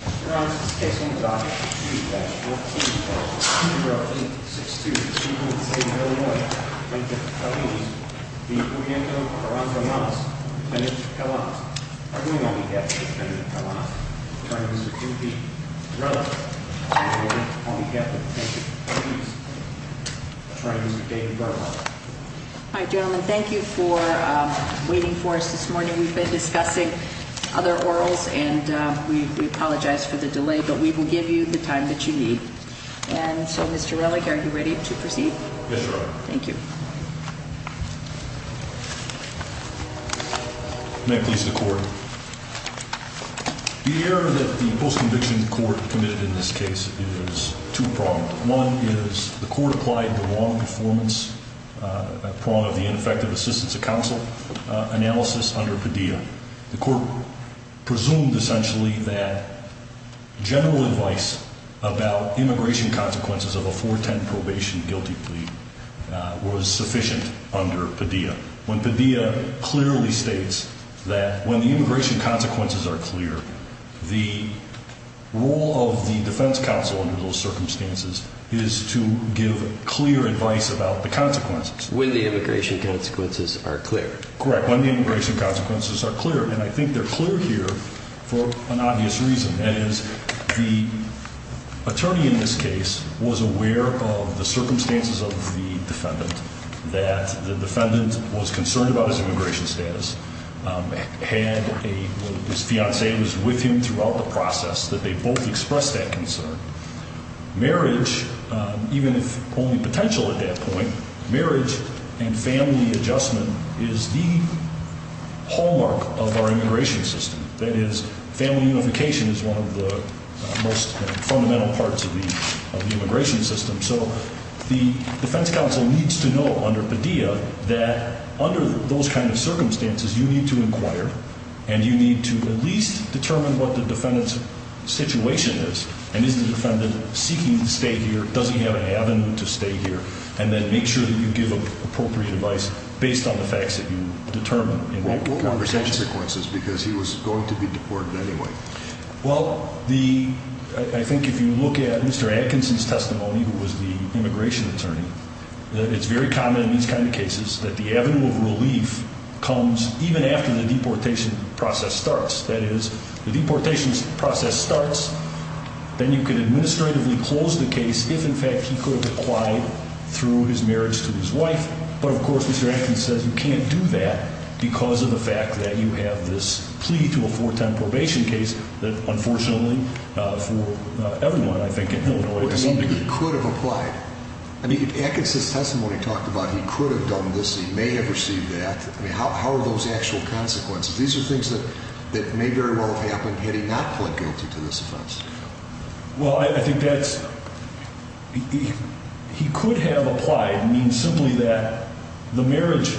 Your Honor, this case will be brought to you by 14-0-8-6-2. The Chief of the State of Illinois, Detective Feliz, v. Corriendo Carranza-Lamas, Lieutenant Carlanos. Arguing on behalf of Lieutenant Carlanos, I'm trying to visit Timothy Rutherford. Arguing on behalf of Detective Feliz, I'm trying to visit David Rutherford. All right, gentlemen, thank you for waiting for us this morning. We've been discussing other orals, and we apologize for the delay, but we will give you the time that you need. And so, Mr. Relig, are you ready to proceed? Yes, Your Honor. Thank you. May it please the Court. The error that the post-conviction court committed in this case is two-pronged. One is the Court applied the wrong performance prong of the ineffective assistance of counsel analysis under Padilla. The Court presumed, essentially, that general advice about immigration consequences of a 410 probation guilty plea was sufficient under Padilla. When Padilla clearly states that when the immigration consequences are clear, the role of the defense counsel under those circumstances is to give clear advice about the consequences. When the immigration consequences are clear. Correct, when the immigration consequences are clear. And I think they're clear here for an obvious reason. That is, the attorney in this case was aware of the circumstances of the defendant. That the defendant was concerned about his immigration status. Had a, his fiancée was with him throughout the process. That they both expressed that concern. Marriage, even if only potential at that point, marriage and family adjustment is the hallmark of our immigration system. That is, family unification is one of the most fundamental parts of the immigration system. So the defense counsel needs to know under Padilla that under those kind of circumstances, you need to inquire. And you need to at least determine what the defendant's situation is. And is the defendant seeking to stay here? Does he have an avenue to stay here? And then make sure that you give appropriate advice based on the facts that you determine in that conversation. Because he was going to be deported anyway. Well, the, I think if you look at Mr. Atkinson's testimony, who was the immigration attorney. It's very common in these kind of cases that the avenue of relief comes even after the deportation process starts. That is, the deportation process starts. Then you can administratively close the case if in fact he could have applied through his marriage to his wife. But, of course, Mr. Atkinson says you can't do that because of the fact that you have this plea to a four-time probation case. That, unfortunately, for everyone, I think, in Illinois to some degree. He could have applied. I mean, if Atkinson's testimony talked about he could have done this, he may have received that. I mean, how are those actual consequences? These are things that may very well have happened had he not pled guilty to this offense. Well, I think that's, he could have applied. It means simply that the marriage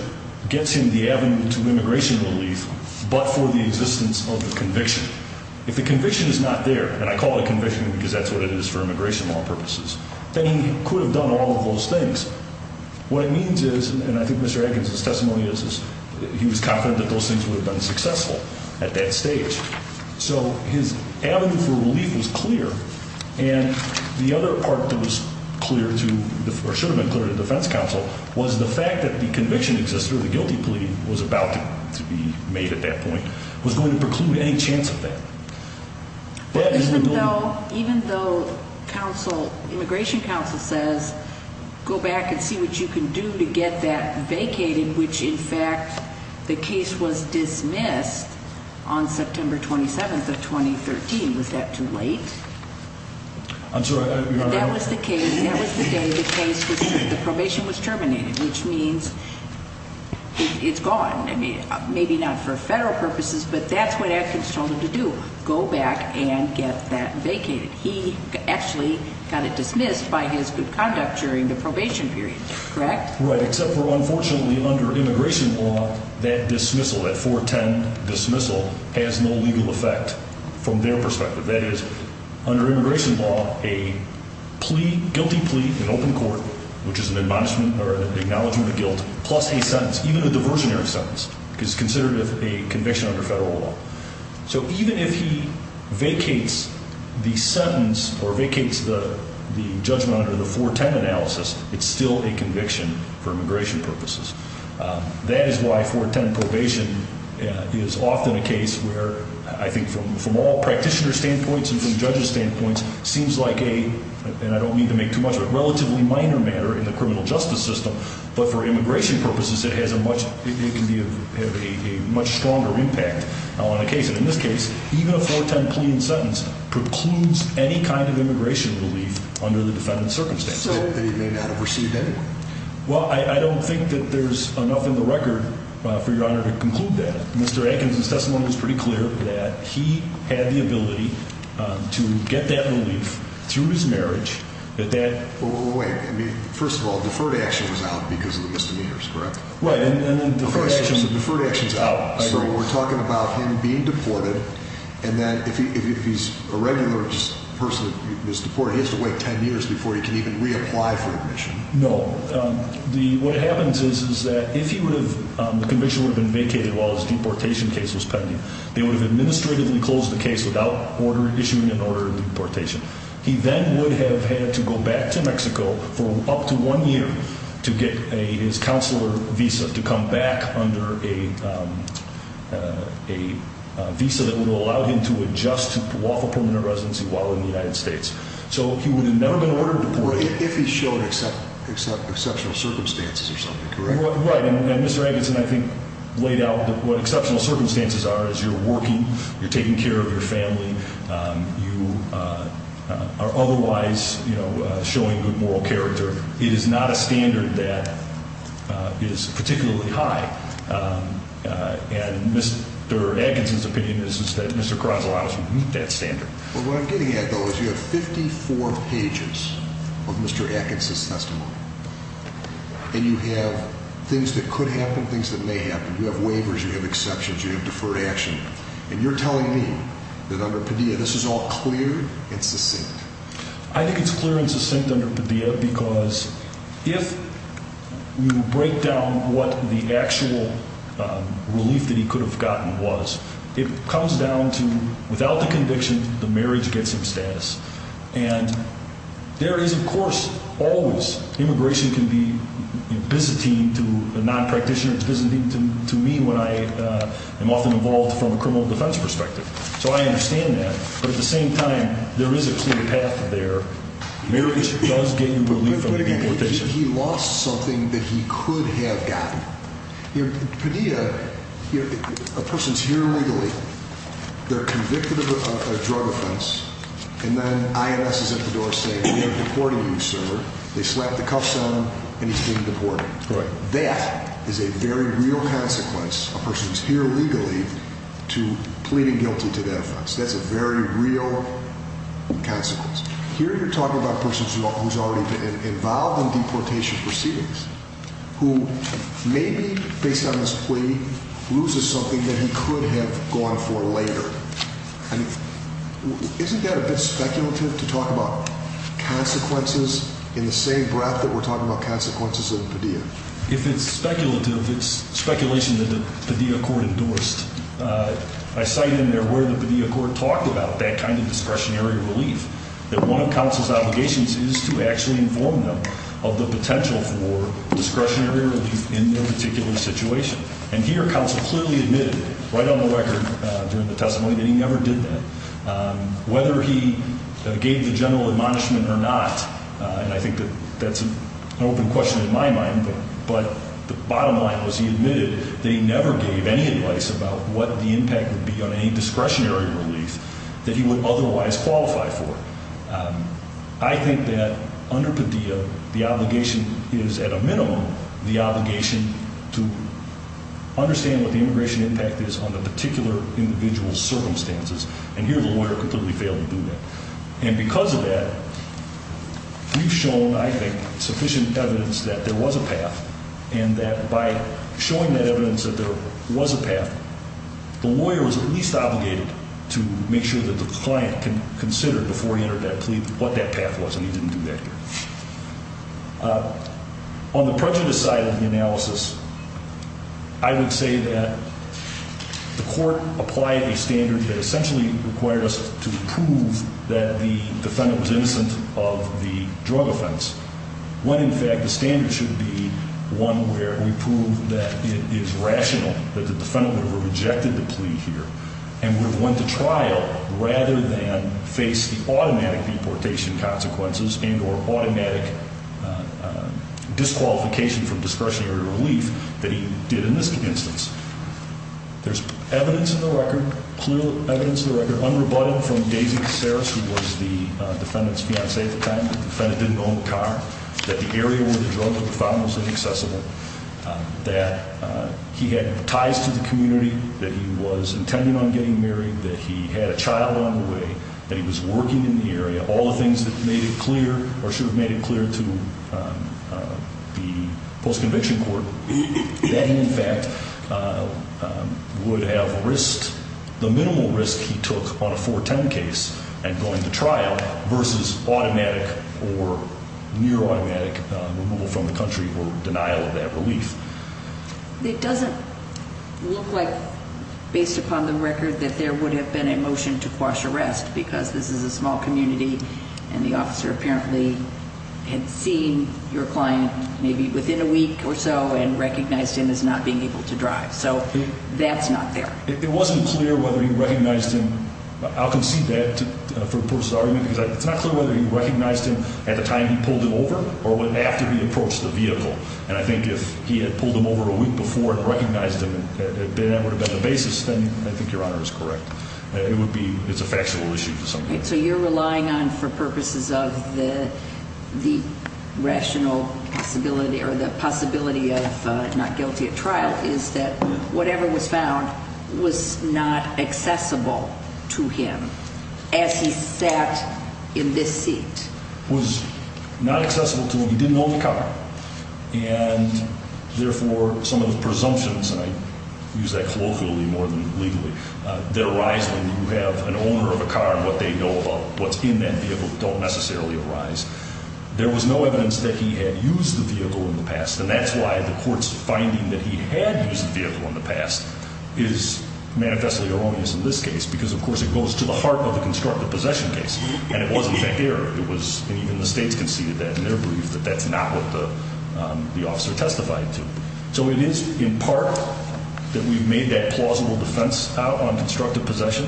gets him the avenue to immigration relief but for the existence of the conviction. If the conviction is not there, and I call it conviction because that's what it is for immigration law purposes, then he could have done all of those things. What it means is, and I think Mr. Atkinson's testimony is, he was confident that those things would have been successful at that stage. So his avenue for relief was clear. And the other part that was clear to, or should have been clear to the defense counsel, was the fact that the conviction existed, or the guilty plea was about to be made at that point, was going to preclude any chance of that. Even though immigration counsel says, go back and see what you can do to get that vacated, which in fact the case was dismissed on September 27th of 2013. Was that too late? I'm sorry, Your Honor. That was the case, that was the day the case was, the probation was terminated, which means it's gone. Maybe not for federal purposes, but that's what Atkinson told him to do, go back and get that vacated. He actually got it dismissed by his good conduct during the probation period, correct? Right, except for unfortunately under immigration law, that dismissal, that 410 dismissal, has no legal effect from their perspective. That is, under immigration law, a plea, guilty plea in open court, which is an acknowledgement of guilt, plus a sentence, even a diversionary sentence, is considered a conviction under federal law. So even if he vacates the sentence, or vacates the judgment under the 410 analysis, it's still a conviction for immigration purposes. That is why 410 probation is often a case where, I think from all practitioners' standpoints and from judges' standpoints, seems like a, and I don't mean to make too much of it, relatively minor matter in the criminal justice system, but for immigration purposes it has a much, it can be of a much stronger impact on a case. And in this case, even a 410 plea and sentence precludes any kind of immigration relief under the defendant's circumstances. So they may not have received anything? Well, I don't think that there's enough in the record for Your Honor to conclude that. Mr. Atkins' testimony was pretty clear that he had the ability to get that relief through his marriage, that that... Well, wait, I mean, first of all, deferred action was out because of the misdemeanors, correct? Right, and then deferred action... First, the deferred action's out. I agree. So we're talking about him being deported, and then if he's a regular person that's deported, he has to wait 10 years before he can even reapply for admission. No. What happens is that if he would have, the conviction would have been vacated while his deportation case was pending. They would have administratively closed the case without issuing an order of deportation. He then would have had to go back to Mexico for up to one year to get his counselor visa to come back under a visa that would allow him to adjust to waffle permanent residency while in the United States. So he would have never been ordered to deport. Well, if he showed exceptional circumstances or something, correct? Right, and Mr. Atkinson, I think, laid out what exceptional circumstances are, is you're working, you're taking care of your family, you are otherwise showing good moral character. It is not a standard that is particularly high, and Mr. Atkinson's opinion is that Mr. Caron's allowed us to meet that standard. Well, what I'm getting at, though, is you have 54 pages of Mr. Atkinson's testimony, and you have things that could happen, things that may happen. You have waivers, you have exceptions, you have deferred action, and you're telling me that under Padilla this is all clear and succinct. I think it's clear and succinct under Padilla because if you break down what the actual relief that he could have gotten was, it comes down to, without the conviction, the marriage gets him status. And there is, of course, always immigration can be a byzantine to a non-practitioner, a byzantine to me when I am often involved from a criminal defense perspective. So I understand that. But at the same time, there is a clear path there. Marriage does get you relief from deportation. He lost something that he could have gotten. Padilla, a person's here legally, they're convicted of a drug offense, and then IMS is at the door saying, we are deporting you, sir. They slap the cuffs on him, and he's being deported. Right. That is a very real consequence, a person who's here legally, to pleading guilty to that offense. That's a very real consequence. Here you're talking about a person who's already been involved in deportation proceedings who maybe, based on his plea, loses something that he could have gone for later. I mean, isn't that a bit speculative to talk about consequences in the same breath that we're talking about consequences in Padilla? If it's speculative, it's speculation that the Padilla court endorsed. I cite in there where the Padilla court talked about that kind of discretionary relief, that one of counsel's obligations is to actually inform them of the potential for discretionary relief in their particular situation. And here counsel clearly admitted right on the record during the testimony that he never did that, whether he gave the general admonishment or not. And I think that that's an open question in my mind. But the bottom line was he admitted they never gave any advice about what the impact would be on any discretionary relief that he would otherwise qualify for. I think that under Padilla, the obligation is, at a minimum, the obligation to understand what the immigration impact is on the particular individual's circumstances. And here the lawyer completely failed to do that. And because of that, we've shown, I think, sufficient evidence that there was a path and that by showing that evidence that there was a path, the lawyer was at least obligated to make sure that the client can consider before he entered that plea what that path was. And he didn't do that here. On the prejudice side of the analysis, I would say that the court applied a standard that essentially required us to prove that the defendant was innocent of the drug offense, when, in fact, the standard should be one where we prove that it is rational that the defendant would have rejected the plea here and would have went to trial rather than face the automatic deportation consequences and or automatic disqualification from discretionary relief that he did in this instance. There's evidence in the record, clear evidence in the record, unrebutted from Daisy Caceres, who was the defendant's fiancee at the time. The defendant didn't own the car, that the area where the drug was found was inaccessible, that he had ties to the community, that he was intending on getting married, that he had a child on the way, that he was working in the area, all the things that made it clear or should have made it clear to the post-conviction court that he, in fact, would have risked the minimal risk he took on a 410 case and going to trial versus automatic or near-automatic removal from the country or denial of that relief. It doesn't look like, based upon the record, that there would have been a motion to quash arrest because this is a small community and the officer apparently had seen your client maybe within a week or so and recognized him as not being able to drive. So that's not there. It wasn't clear whether he recognized him. I'll concede that for the purpose of the argument because it's not clear whether he recognized him at the time he pulled him over or after he approached the vehicle. And I think if he had pulled him over a week before and recognized him, that would have been the basis, then I think Your Honor is correct. It's a factual issue to some degree. So you're relying on, for purposes of the rational possibility or the possibility of not guilty at trial, is that whatever was found was not accessible to him as he sat in this seat? Was not accessible to him. He didn't own the car. And, therefore, some of the presumptions, and I use that colloquially more than legally, that arise when you have an owner of a car and what they know about what's in that vehicle don't necessarily arise. There was no evidence that he had used the vehicle in the past, and that's why the court's finding that he had used the vehicle in the past is manifestly erroneous in this case and it wasn't fair. It was, and even the states conceded that in their belief that that's not what the officer testified to. So it is in part that we've made that plausible defense out on constructive possession,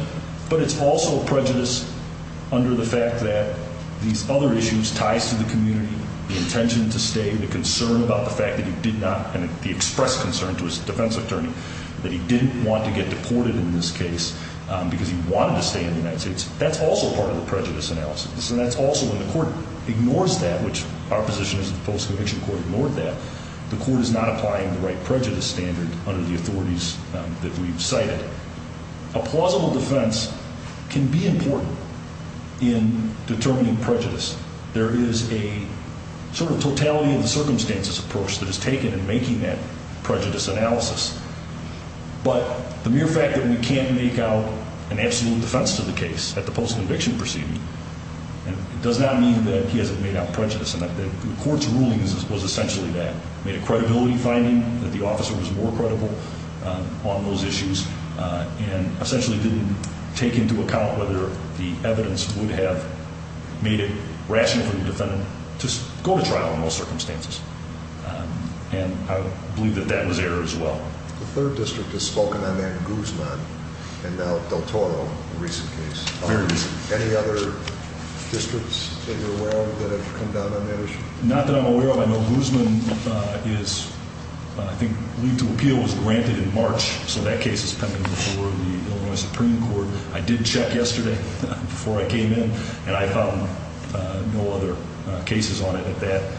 but it's also prejudice under the fact that these other issues, ties to the community, the intention to stay, the concern about the fact that he did not, and the express concern to his defense attorney that he didn't want to get deported in this case because he wanted to stay in the United States. That's also part of the prejudice analysis, and that's also when the court ignores that, which our position is that the Post-Conviction Court ignored that. The court is not applying the right prejudice standard under the authorities that we've cited. A plausible defense can be important in determining prejudice. There is a sort of totality of the circumstances approach that is taken in making that prejudice analysis, but the mere fact that we can't make out an absolute defense to the case at the post-conviction proceeding does not mean that he hasn't made out prejudice, and the court's ruling was essentially that, made a credibility finding that the officer was more credible on those issues and essentially didn't take into account whether the evidence would have made it rational for the defendant to go to trial in those circumstances. And I believe that that was error as well. The third district has spoken on that, Guzman, and now Del Toro, a recent case. Very recent. Any other districts that you're aware of that have come down on that issue? Not that I'm aware of. I know Guzman is, I think, lead to appeal was granted in March, so that case is pending before the Illinois Supreme Court. I did check yesterday before I came in, and I found no other cases on it at that,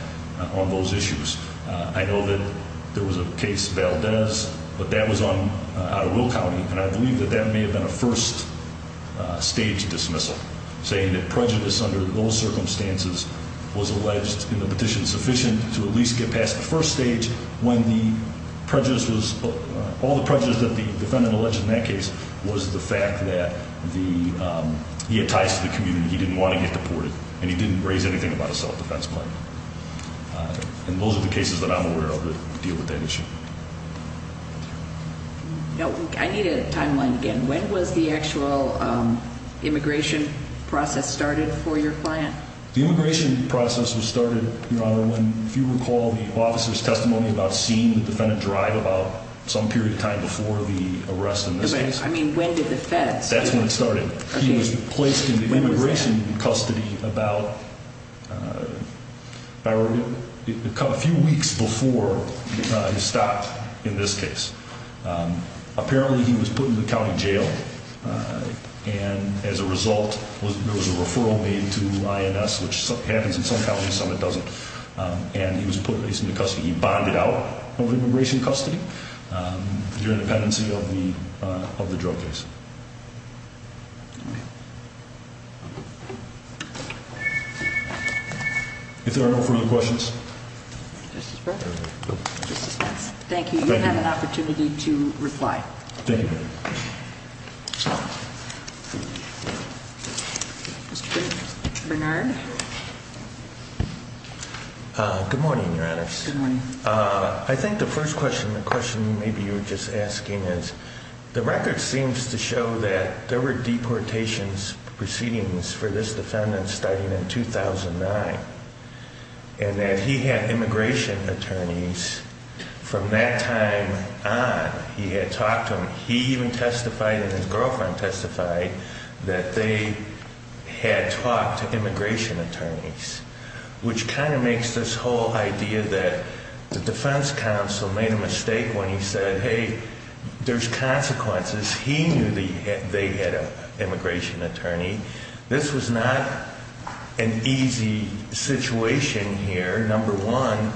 on those issues. I know that there was a case, Valdez, but that was out of Will County, and I believe that that may have been a first-stage dismissal, saying that prejudice under those circumstances was alleged in the petition sufficient to at least get past the first stage when all the prejudice that the defendant alleged in that case was the fact that he had ties to the community, he didn't want to get deported, and he didn't raise anything about a self-defense claim. And those are the cases that I'm aware of that deal with that issue. I need a timeline again. When was the actual immigration process started for your client? The immigration process was started, Your Honor, when, if you recall, the officer's testimony about seeing the defendant drive about some period of time before the arrest in this case. I mean, when did the defense? That's when it started. He was placed into immigration custody about a few weeks before his stop in this case. Apparently, he was put in the county jail, and as a result, there was a referral made to INS, which happens in some counties, some it doesn't, and he was placed into custody. He bonded out of immigration custody during the pendency of the drug case. If there are no further questions. Mr. Spence. Thank you. You have an opportunity to reply. Thank you. Mr. Bernard. Good morning, Your Honor. Good morning. I think the first question, the question maybe you were just asking is, the record seems to show that there were deportations proceedings for this defendant starting in 2009 and that he had immigration attorneys from that time on. He had talked to them. He even testified and his girlfriend testified that they had talked to immigration attorneys, which kind of makes this whole idea that the defense counsel made a mistake when he said, hey, there's consequences. He knew that they had an immigration attorney. This was not an easy situation here. Number one,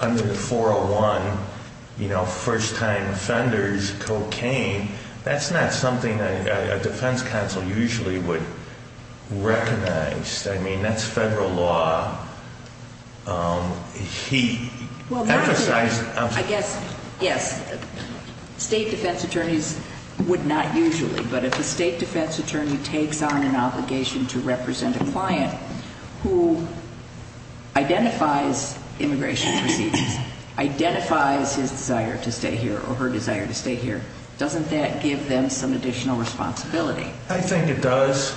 under the 401, you know, first-time offenders, cocaine, that's not something that a defense counsel usually would recognize. I mean, that's federal law. He emphasized. I guess, yes, state defense attorneys would not usually, but if a state defense attorney takes on an obligation to represent a client who identifies immigration proceedings, identifies his desire to stay here or her desire to stay here, doesn't that give them some additional responsibility? I think it does,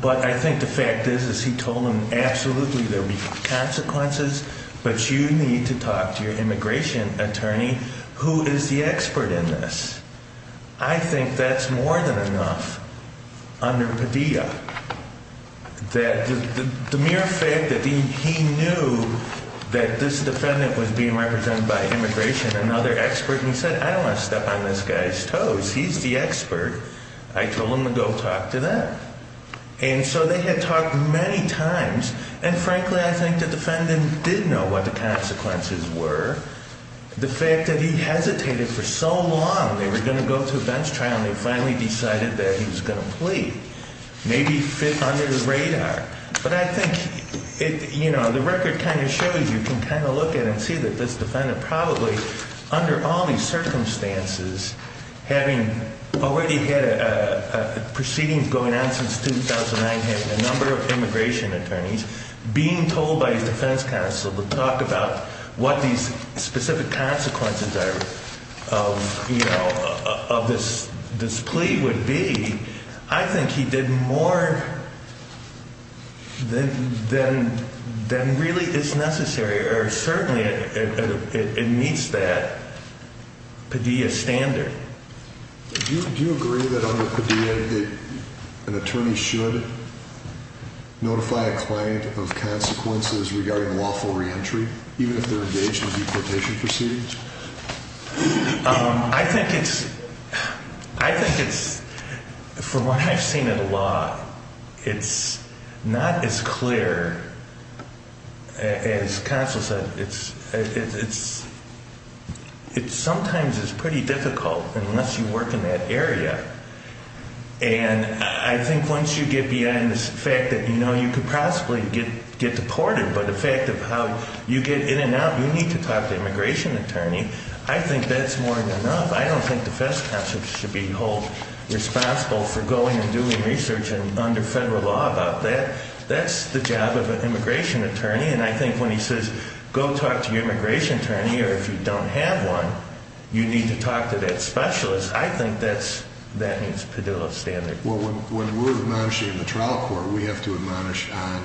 but I think the fact is, as he told them, absolutely there would be consequences, but you need to talk to your immigration attorney who is the expert in this. I think that's more than enough under Padilla, that the mere fact that he knew that this defendant was being represented by immigration, another expert, and he said, I don't want to step on this guy's toes. He's the expert. I told him to go talk to them, and so they had talked many times, and frankly, I think the defendant did know what the consequences were. The fact that he hesitated for so long, they were going to go to a bench trial, and they finally decided that he was going to plead, maybe fit under the radar, but I think the record kind of shows you can kind of look at it and see that this defendant probably, under all these circumstances, having already had a proceeding going on since 2009, having a number of immigration attorneys, being told by his defense counsel to talk about what these specific consequences of this plea would be, I think he did more than really is necessary, or certainly it meets that Padilla standard. Do you agree that under Padilla, an attorney should notify a client of consequences regarding lawful reentry, even if they're engaged in a deportation proceeding? I think it's, from what I've seen in the law, it's not as clear, as counsel said, but it sometimes is pretty difficult, unless you work in that area, and I think once you get beyond the fact that you know you could possibly get deported, but the fact of how you get in and out, you need to talk to an immigration attorney. I think that's more than enough. I don't think the defense counsel should be held responsible for going and doing research under federal law about that. That's the job of an immigration attorney, and I think when he says, go talk to your immigration attorney, or if you don't have one, you need to talk to that specialist, I think that meets Padilla's standard. Well, when we're admonishing in the trial court, we have to admonish on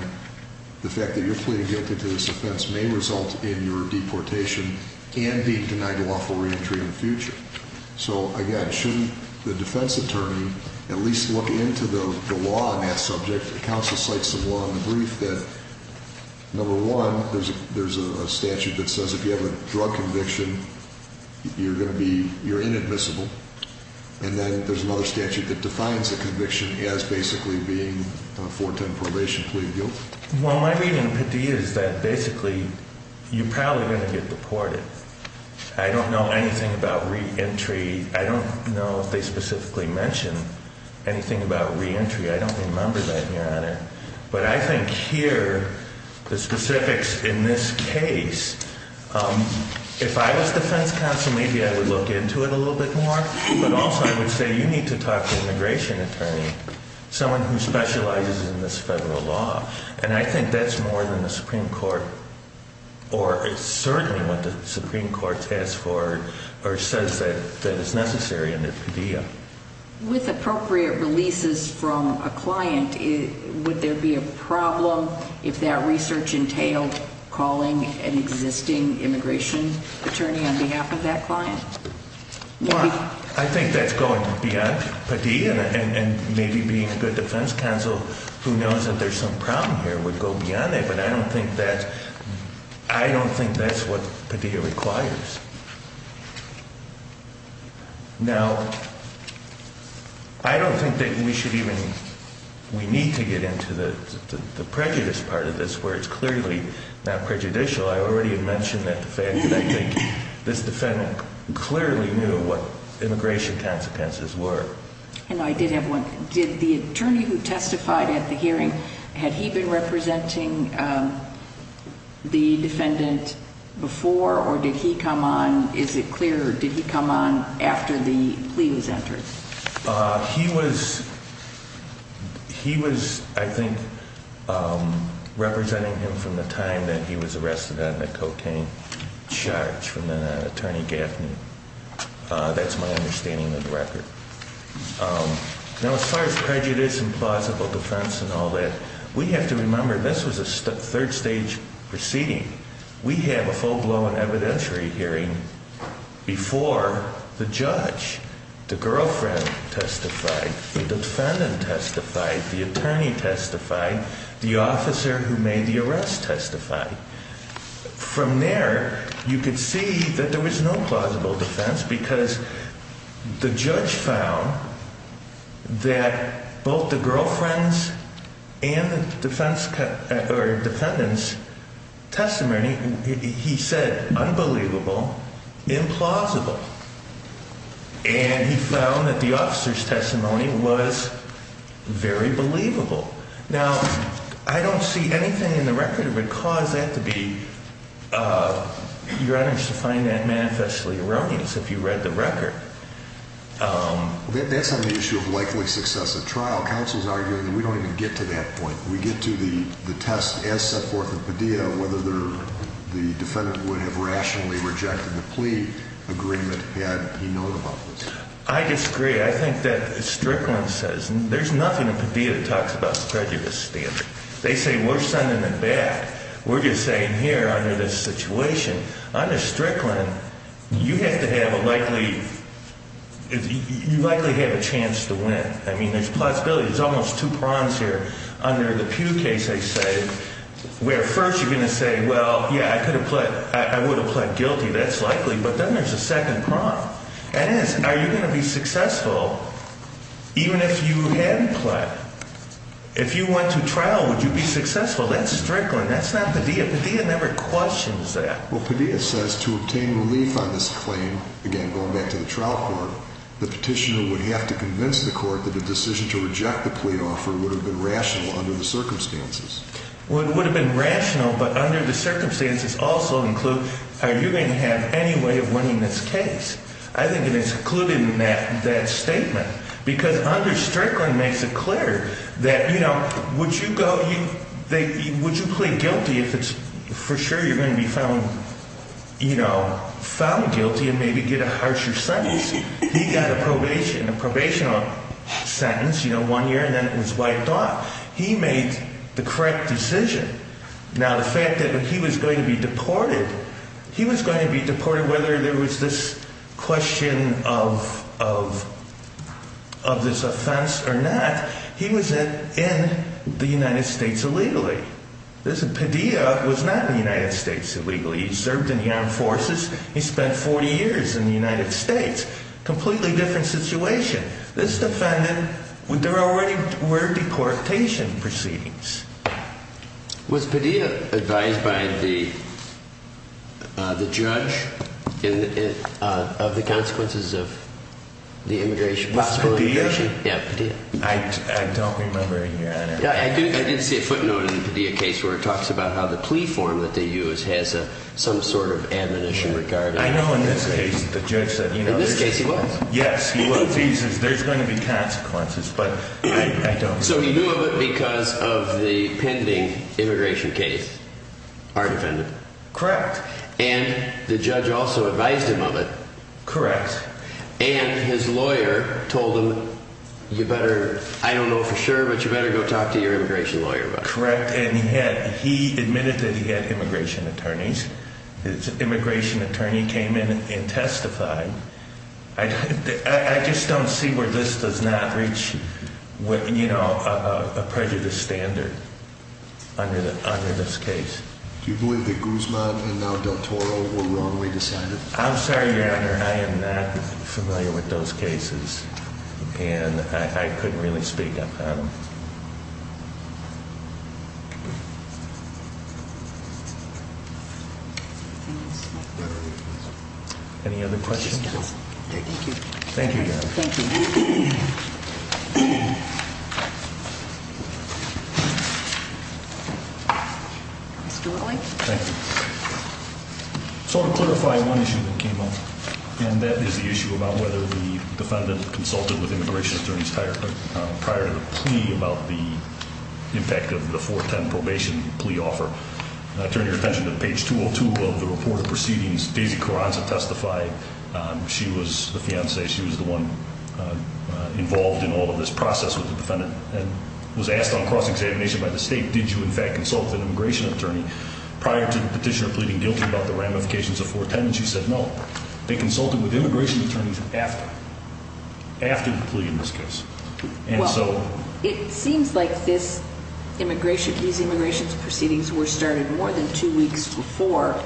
the fact that your plea and guilt into this offense may result in your deportation and being denied a lawful reentry in the future. So, again, shouldn't the defense attorney at least look into the law on that subject? The counsel cites the law in the brief that, number one, there's a statute that says if you have a drug conviction, you're inadmissible, and then there's another statute that defines a conviction as basically being a 410 probation plea of guilt. Well, my reading of Padilla is that basically you're probably going to get deported. I don't know anything about reentry. I don't know if they specifically mention anything about reentry. I don't remember that, Your Honor. But I think here, the specifics in this case, if I was defense counsel, maybe I would look into it a little bit more, but also I would say you need to talk to an immigration attorney, someone who specializes in this federal law, and I think that's more than the Supreme Court or certainly what the Supreme Court says that is necessary under Padilla. With appropriate releases from a client, would there be a problem if that research entailed calling an existing immigration attorney on behalf of that client? Well, I think that's going beyond Padilla, and maybe being a good defense counsel who knows that there's some problem here would go beyond that, but I don't think that's what Padilla requires. Now, I don't think that we should even – we need to get into the prejudice part of this where it's clearly not prejudicial. I already mentioned that the fact that I think this defendant clearly knew what immigration consequences were. And I did have one. Did the attorney who testified at the hearing, had he been representing the defendant before or did he come on – is it clear or did he come on after the plea was entered? He was, I think, representing him from the time that he was arrested on the cocaine charge from Attorney Gaffney. That's my understanding of the record. Now, as far as prejudice and plausible defense and all that, we have to remember this was a third-stage proceeding. We have a full-blown evidentiary hearing before the judge. The girlfriend testified, the defendant testified, the attorney testified, the officer who made the arrest testified. From there, you could see that there was no plausible defense because the judge found that both the girlfriend's and the defendant's testimony, he said, unbelievable, implausible. And he found that the officer's testimony was very believable. Now, I don't see anything in the record that would cause that to be – your Honor, to find that manifestly erroneous if you read the record. That's on the issue of likely success of trial. Counsel's arguing that we don't even get to that point. We get to the test as set forth in Padilla whether the defendant would have rationally rejected the plea agreement had he known about this. I disagree. I think that Strickland says there's nothing in Padilla that talks about prejudice standard. They say we're sending them back. We're just saying here under this situation, under Strickland, you have to have a likely – you likely have a chance to win. I mean, there's plausibility. There's almost two prongs here. Under the Pugh case, they say where first you're going to say, well, yeah, I could have pled – I would have pled guilty. That's likely. But then there's a second prong. That is, are you going to be successful even if you had pled? If you went to trial, would you be successful? That's Strickland. That's not Padilla. Padilla never questions that. Well, Padilla says to obtain relief on this claim, again, going back to the trial court, the petitioner would have to convince the court that the decision to reject the plea offer would have been rational under the circumstances. Well, it would have been rational, but under the circumstances also include are you going to have any way of winning this case? I think it is included in that statement because under Strickland makes it clear that, you know, would you go – would you plead guilty if it's for sure you're going to be found, you know, found guilty and maybe get a harsher sentence? He got a probation – a probation sentence, you know, one year and then it was wiped off. He made the correct decision. Now, the fact that he was going to be deported, he was going to be deported whether there was this question of this offense or not. He was in the United States illegally. Padilla was not in the United States illegally. He served in the armed forces. He spent 40 years in the United States. Completely different situation. This defendant, there already were deportation proceedings. Was Padilla advised by the judge of the consequences of the immigration? About Padilla? Yeah, Padilla. I don't remember in your honor. I did see a footnote in the Padilla case where it talks about how the plea form that they use has some sort of admonition regarding – I know in this case the judge said, you know – In this case he was. Yes, he was. He says there's going to be consequences, but I don't know. So he knew of it because of the pending immigration case, our defendant? Correct. And the judge also advised him of it? Correct. And his lawyer told him, you better – I don't know for sure, but you better go talk to your immigration lawyer about it. Correct. And he admitted that he had immigration attorneys. Immigration attorney came in and testified. I just don't see where this does not reach, you know, a prejudice standard under this case. Do you believe that Guzman and now Del Toro were wrongly decided? I'm sorry, your honor. I am not familiar with those cases, and I couldn't really speak on them. Any other questions? Thank you. Thank you, your honor. Thank you. Mr. Whitley. Thank you. So to clarify one issue that came up, and that is the issue about whether the defendant consulted with immigration attorneys prior to the plea about the impact of the 410 probation plea offer. Turn your attention to page 202 of the report of proceedings. Daisy Carranza testified. She was the fiancée. She was the one involved in all of this process with the defendant and was asked on cross-examination by the state, did you in fact consult with an immigration attorney prior to the petitioner pleading guilty about the ramifications of 410? And she said no. They consulted with immigration attorneys after, after the plea in this case. Well, it seems like this immigration, these immigration proceedings were started more than two weeks before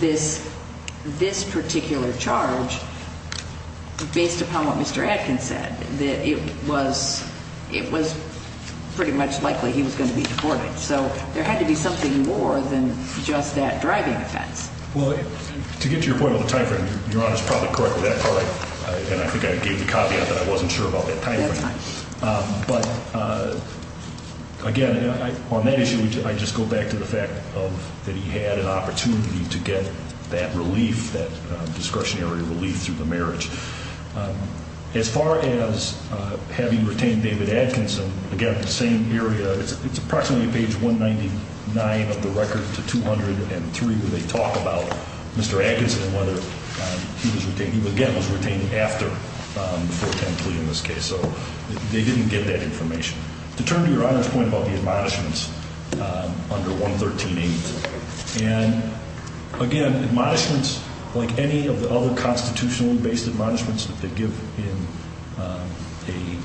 this, this particular charge, based upon what Mr. Adkins said, that it was, it was pretty much likely he was going to be deported. So there had to be something more than just that driving offense. Well, to get to your point on the time frame, Your Honor is probably correct with that part, and I think I gave the caveat that I wasn't sure about that time frame. But again, on that issue, I just go back to the fact that he had an opportunity to get that relief, that discretionary relief through the marriage. As far as having retained David Adkinson, again, the same area, it's approximately page 199 of the record to 203 where they talk about Mr. Adkinson and whether he was retained, he again was retained after the 410 plea in this case. So they didn't get that information. To turn to Your Honor's point about the admonishments under 113A, and again, admonishments like any of the other constitutionally based admonishments that they give in a,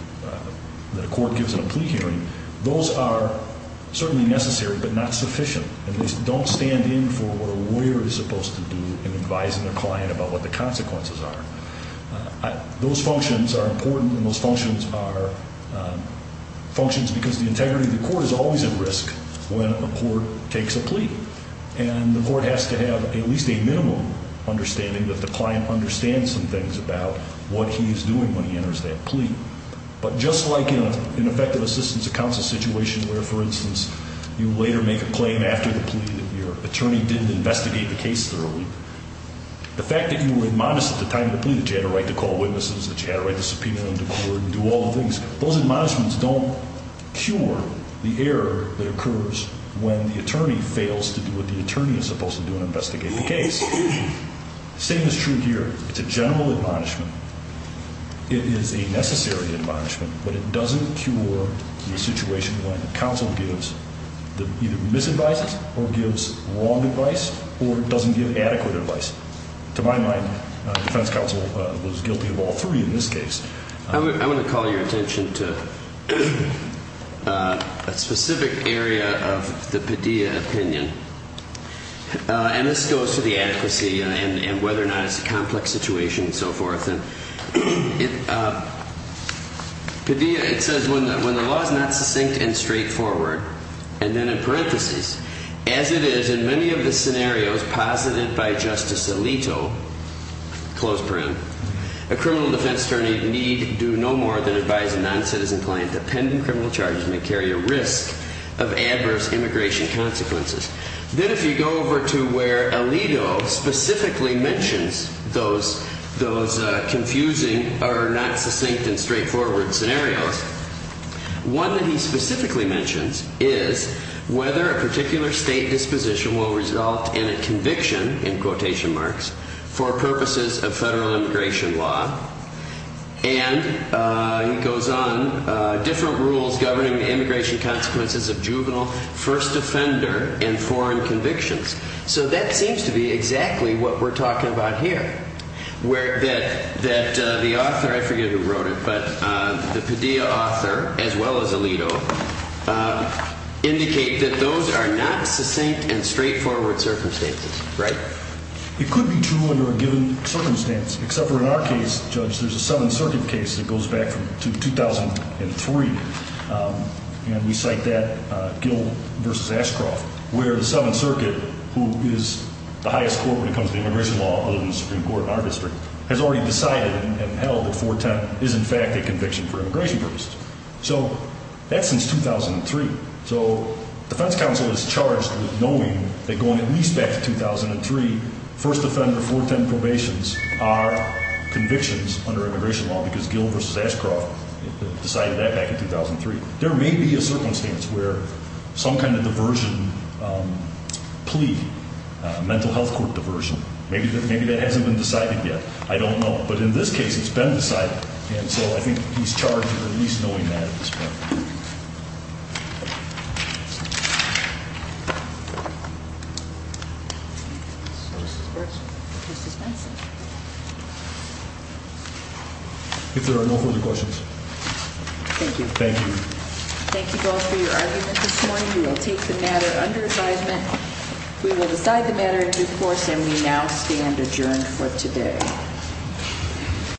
that a court gives in a plea hearing, those are certainly necessary, but not sufficient. At least don't stand in for what a lawyer is supposed to do in advising their client about what the consequences are. Those functions are important, and those functions are functions because the integrity of the court is always at risk when a court takes a plea. And the court has to have at least a minimum understanding that the client understands some things about what he is doing when he enters that plea. But just like in an effective assistance to counsel situation where, for instance, you later make a claim after the plea that your attorney didn't investigate the case thoroughly, the fact that you were admonished at the time of the plea that you had a right to call witnesses, that you had a right to subpoena and decourt and do all the things, those admonishments don't cure the error that occurs when the attorney fails to do what the attorney is supposed to do and investigate the case. The same is true here. It's a general admonishment. It is a necessary admonishment, but it doesn't cure the situation when counsel gives either misadvices or gives wrong advice or doesn't give adequate advice. To my mind, defense counsel was guilty of all three in this case. I want to call your attention to a specific area of the Padilla opinion. And this goes to the adequacy and whether or not it's a complex situation and so forth. Padilla, it says, when the law is not succinct and straightforward, and then in parentheses, as it is in many of the scenarios posited by Justice Alito, close parent, a criminal defense attorney need do no more than advise a non-citizen client that pending criminal charges may carry a risk of adverse immigration consequences. Then if you go over to where Alito specifically mentions those confusing or not succinct and straightforward scenarios, One that he specifically mentions is whether a particular state disposition will result in a conviction, in quotation marks, for purposes of federal immigration law. And he goes on, different rules governing immigration consequences of juvenile first offender and foreign convictions. So that seems to be exactly what we're talking about here. That the author, I forget who wrote it, but the Padilla author, as well as Alito, indicate that those are not succinct and straightforward circumstances. Right? It could be true under a given circumstance, except for in our case, Judge, there's a Seventh Circuit case that goes back to 2003. And we cite that, Gill v. Ashcroft, where the Seventh Circuit, who is the highest court when it comes to immigration law, other than the Supreme Court in our district, has already decided and held that 410 is in fact a conviction for immigration purposes. So that's since 2003. So defense counsel is charged with knowing that going at least back to 2003, first offender 410 probations are convictions under immigration law, because Gill v. Ashcroft decided that back in 2003. There may be a circumstance where some kind of diversion plea, mental health court diversion, maybe that hasn't been decided yet. I don't know. But in this case, it's been decided. And so I think he's charged with at least knowing that at this point. If there are no further questions. Thank you. Thank you. Thank you both for your argument this morning. We will take the matter under advisement. We will decide the matter in due course, and we now stand adjourned for today.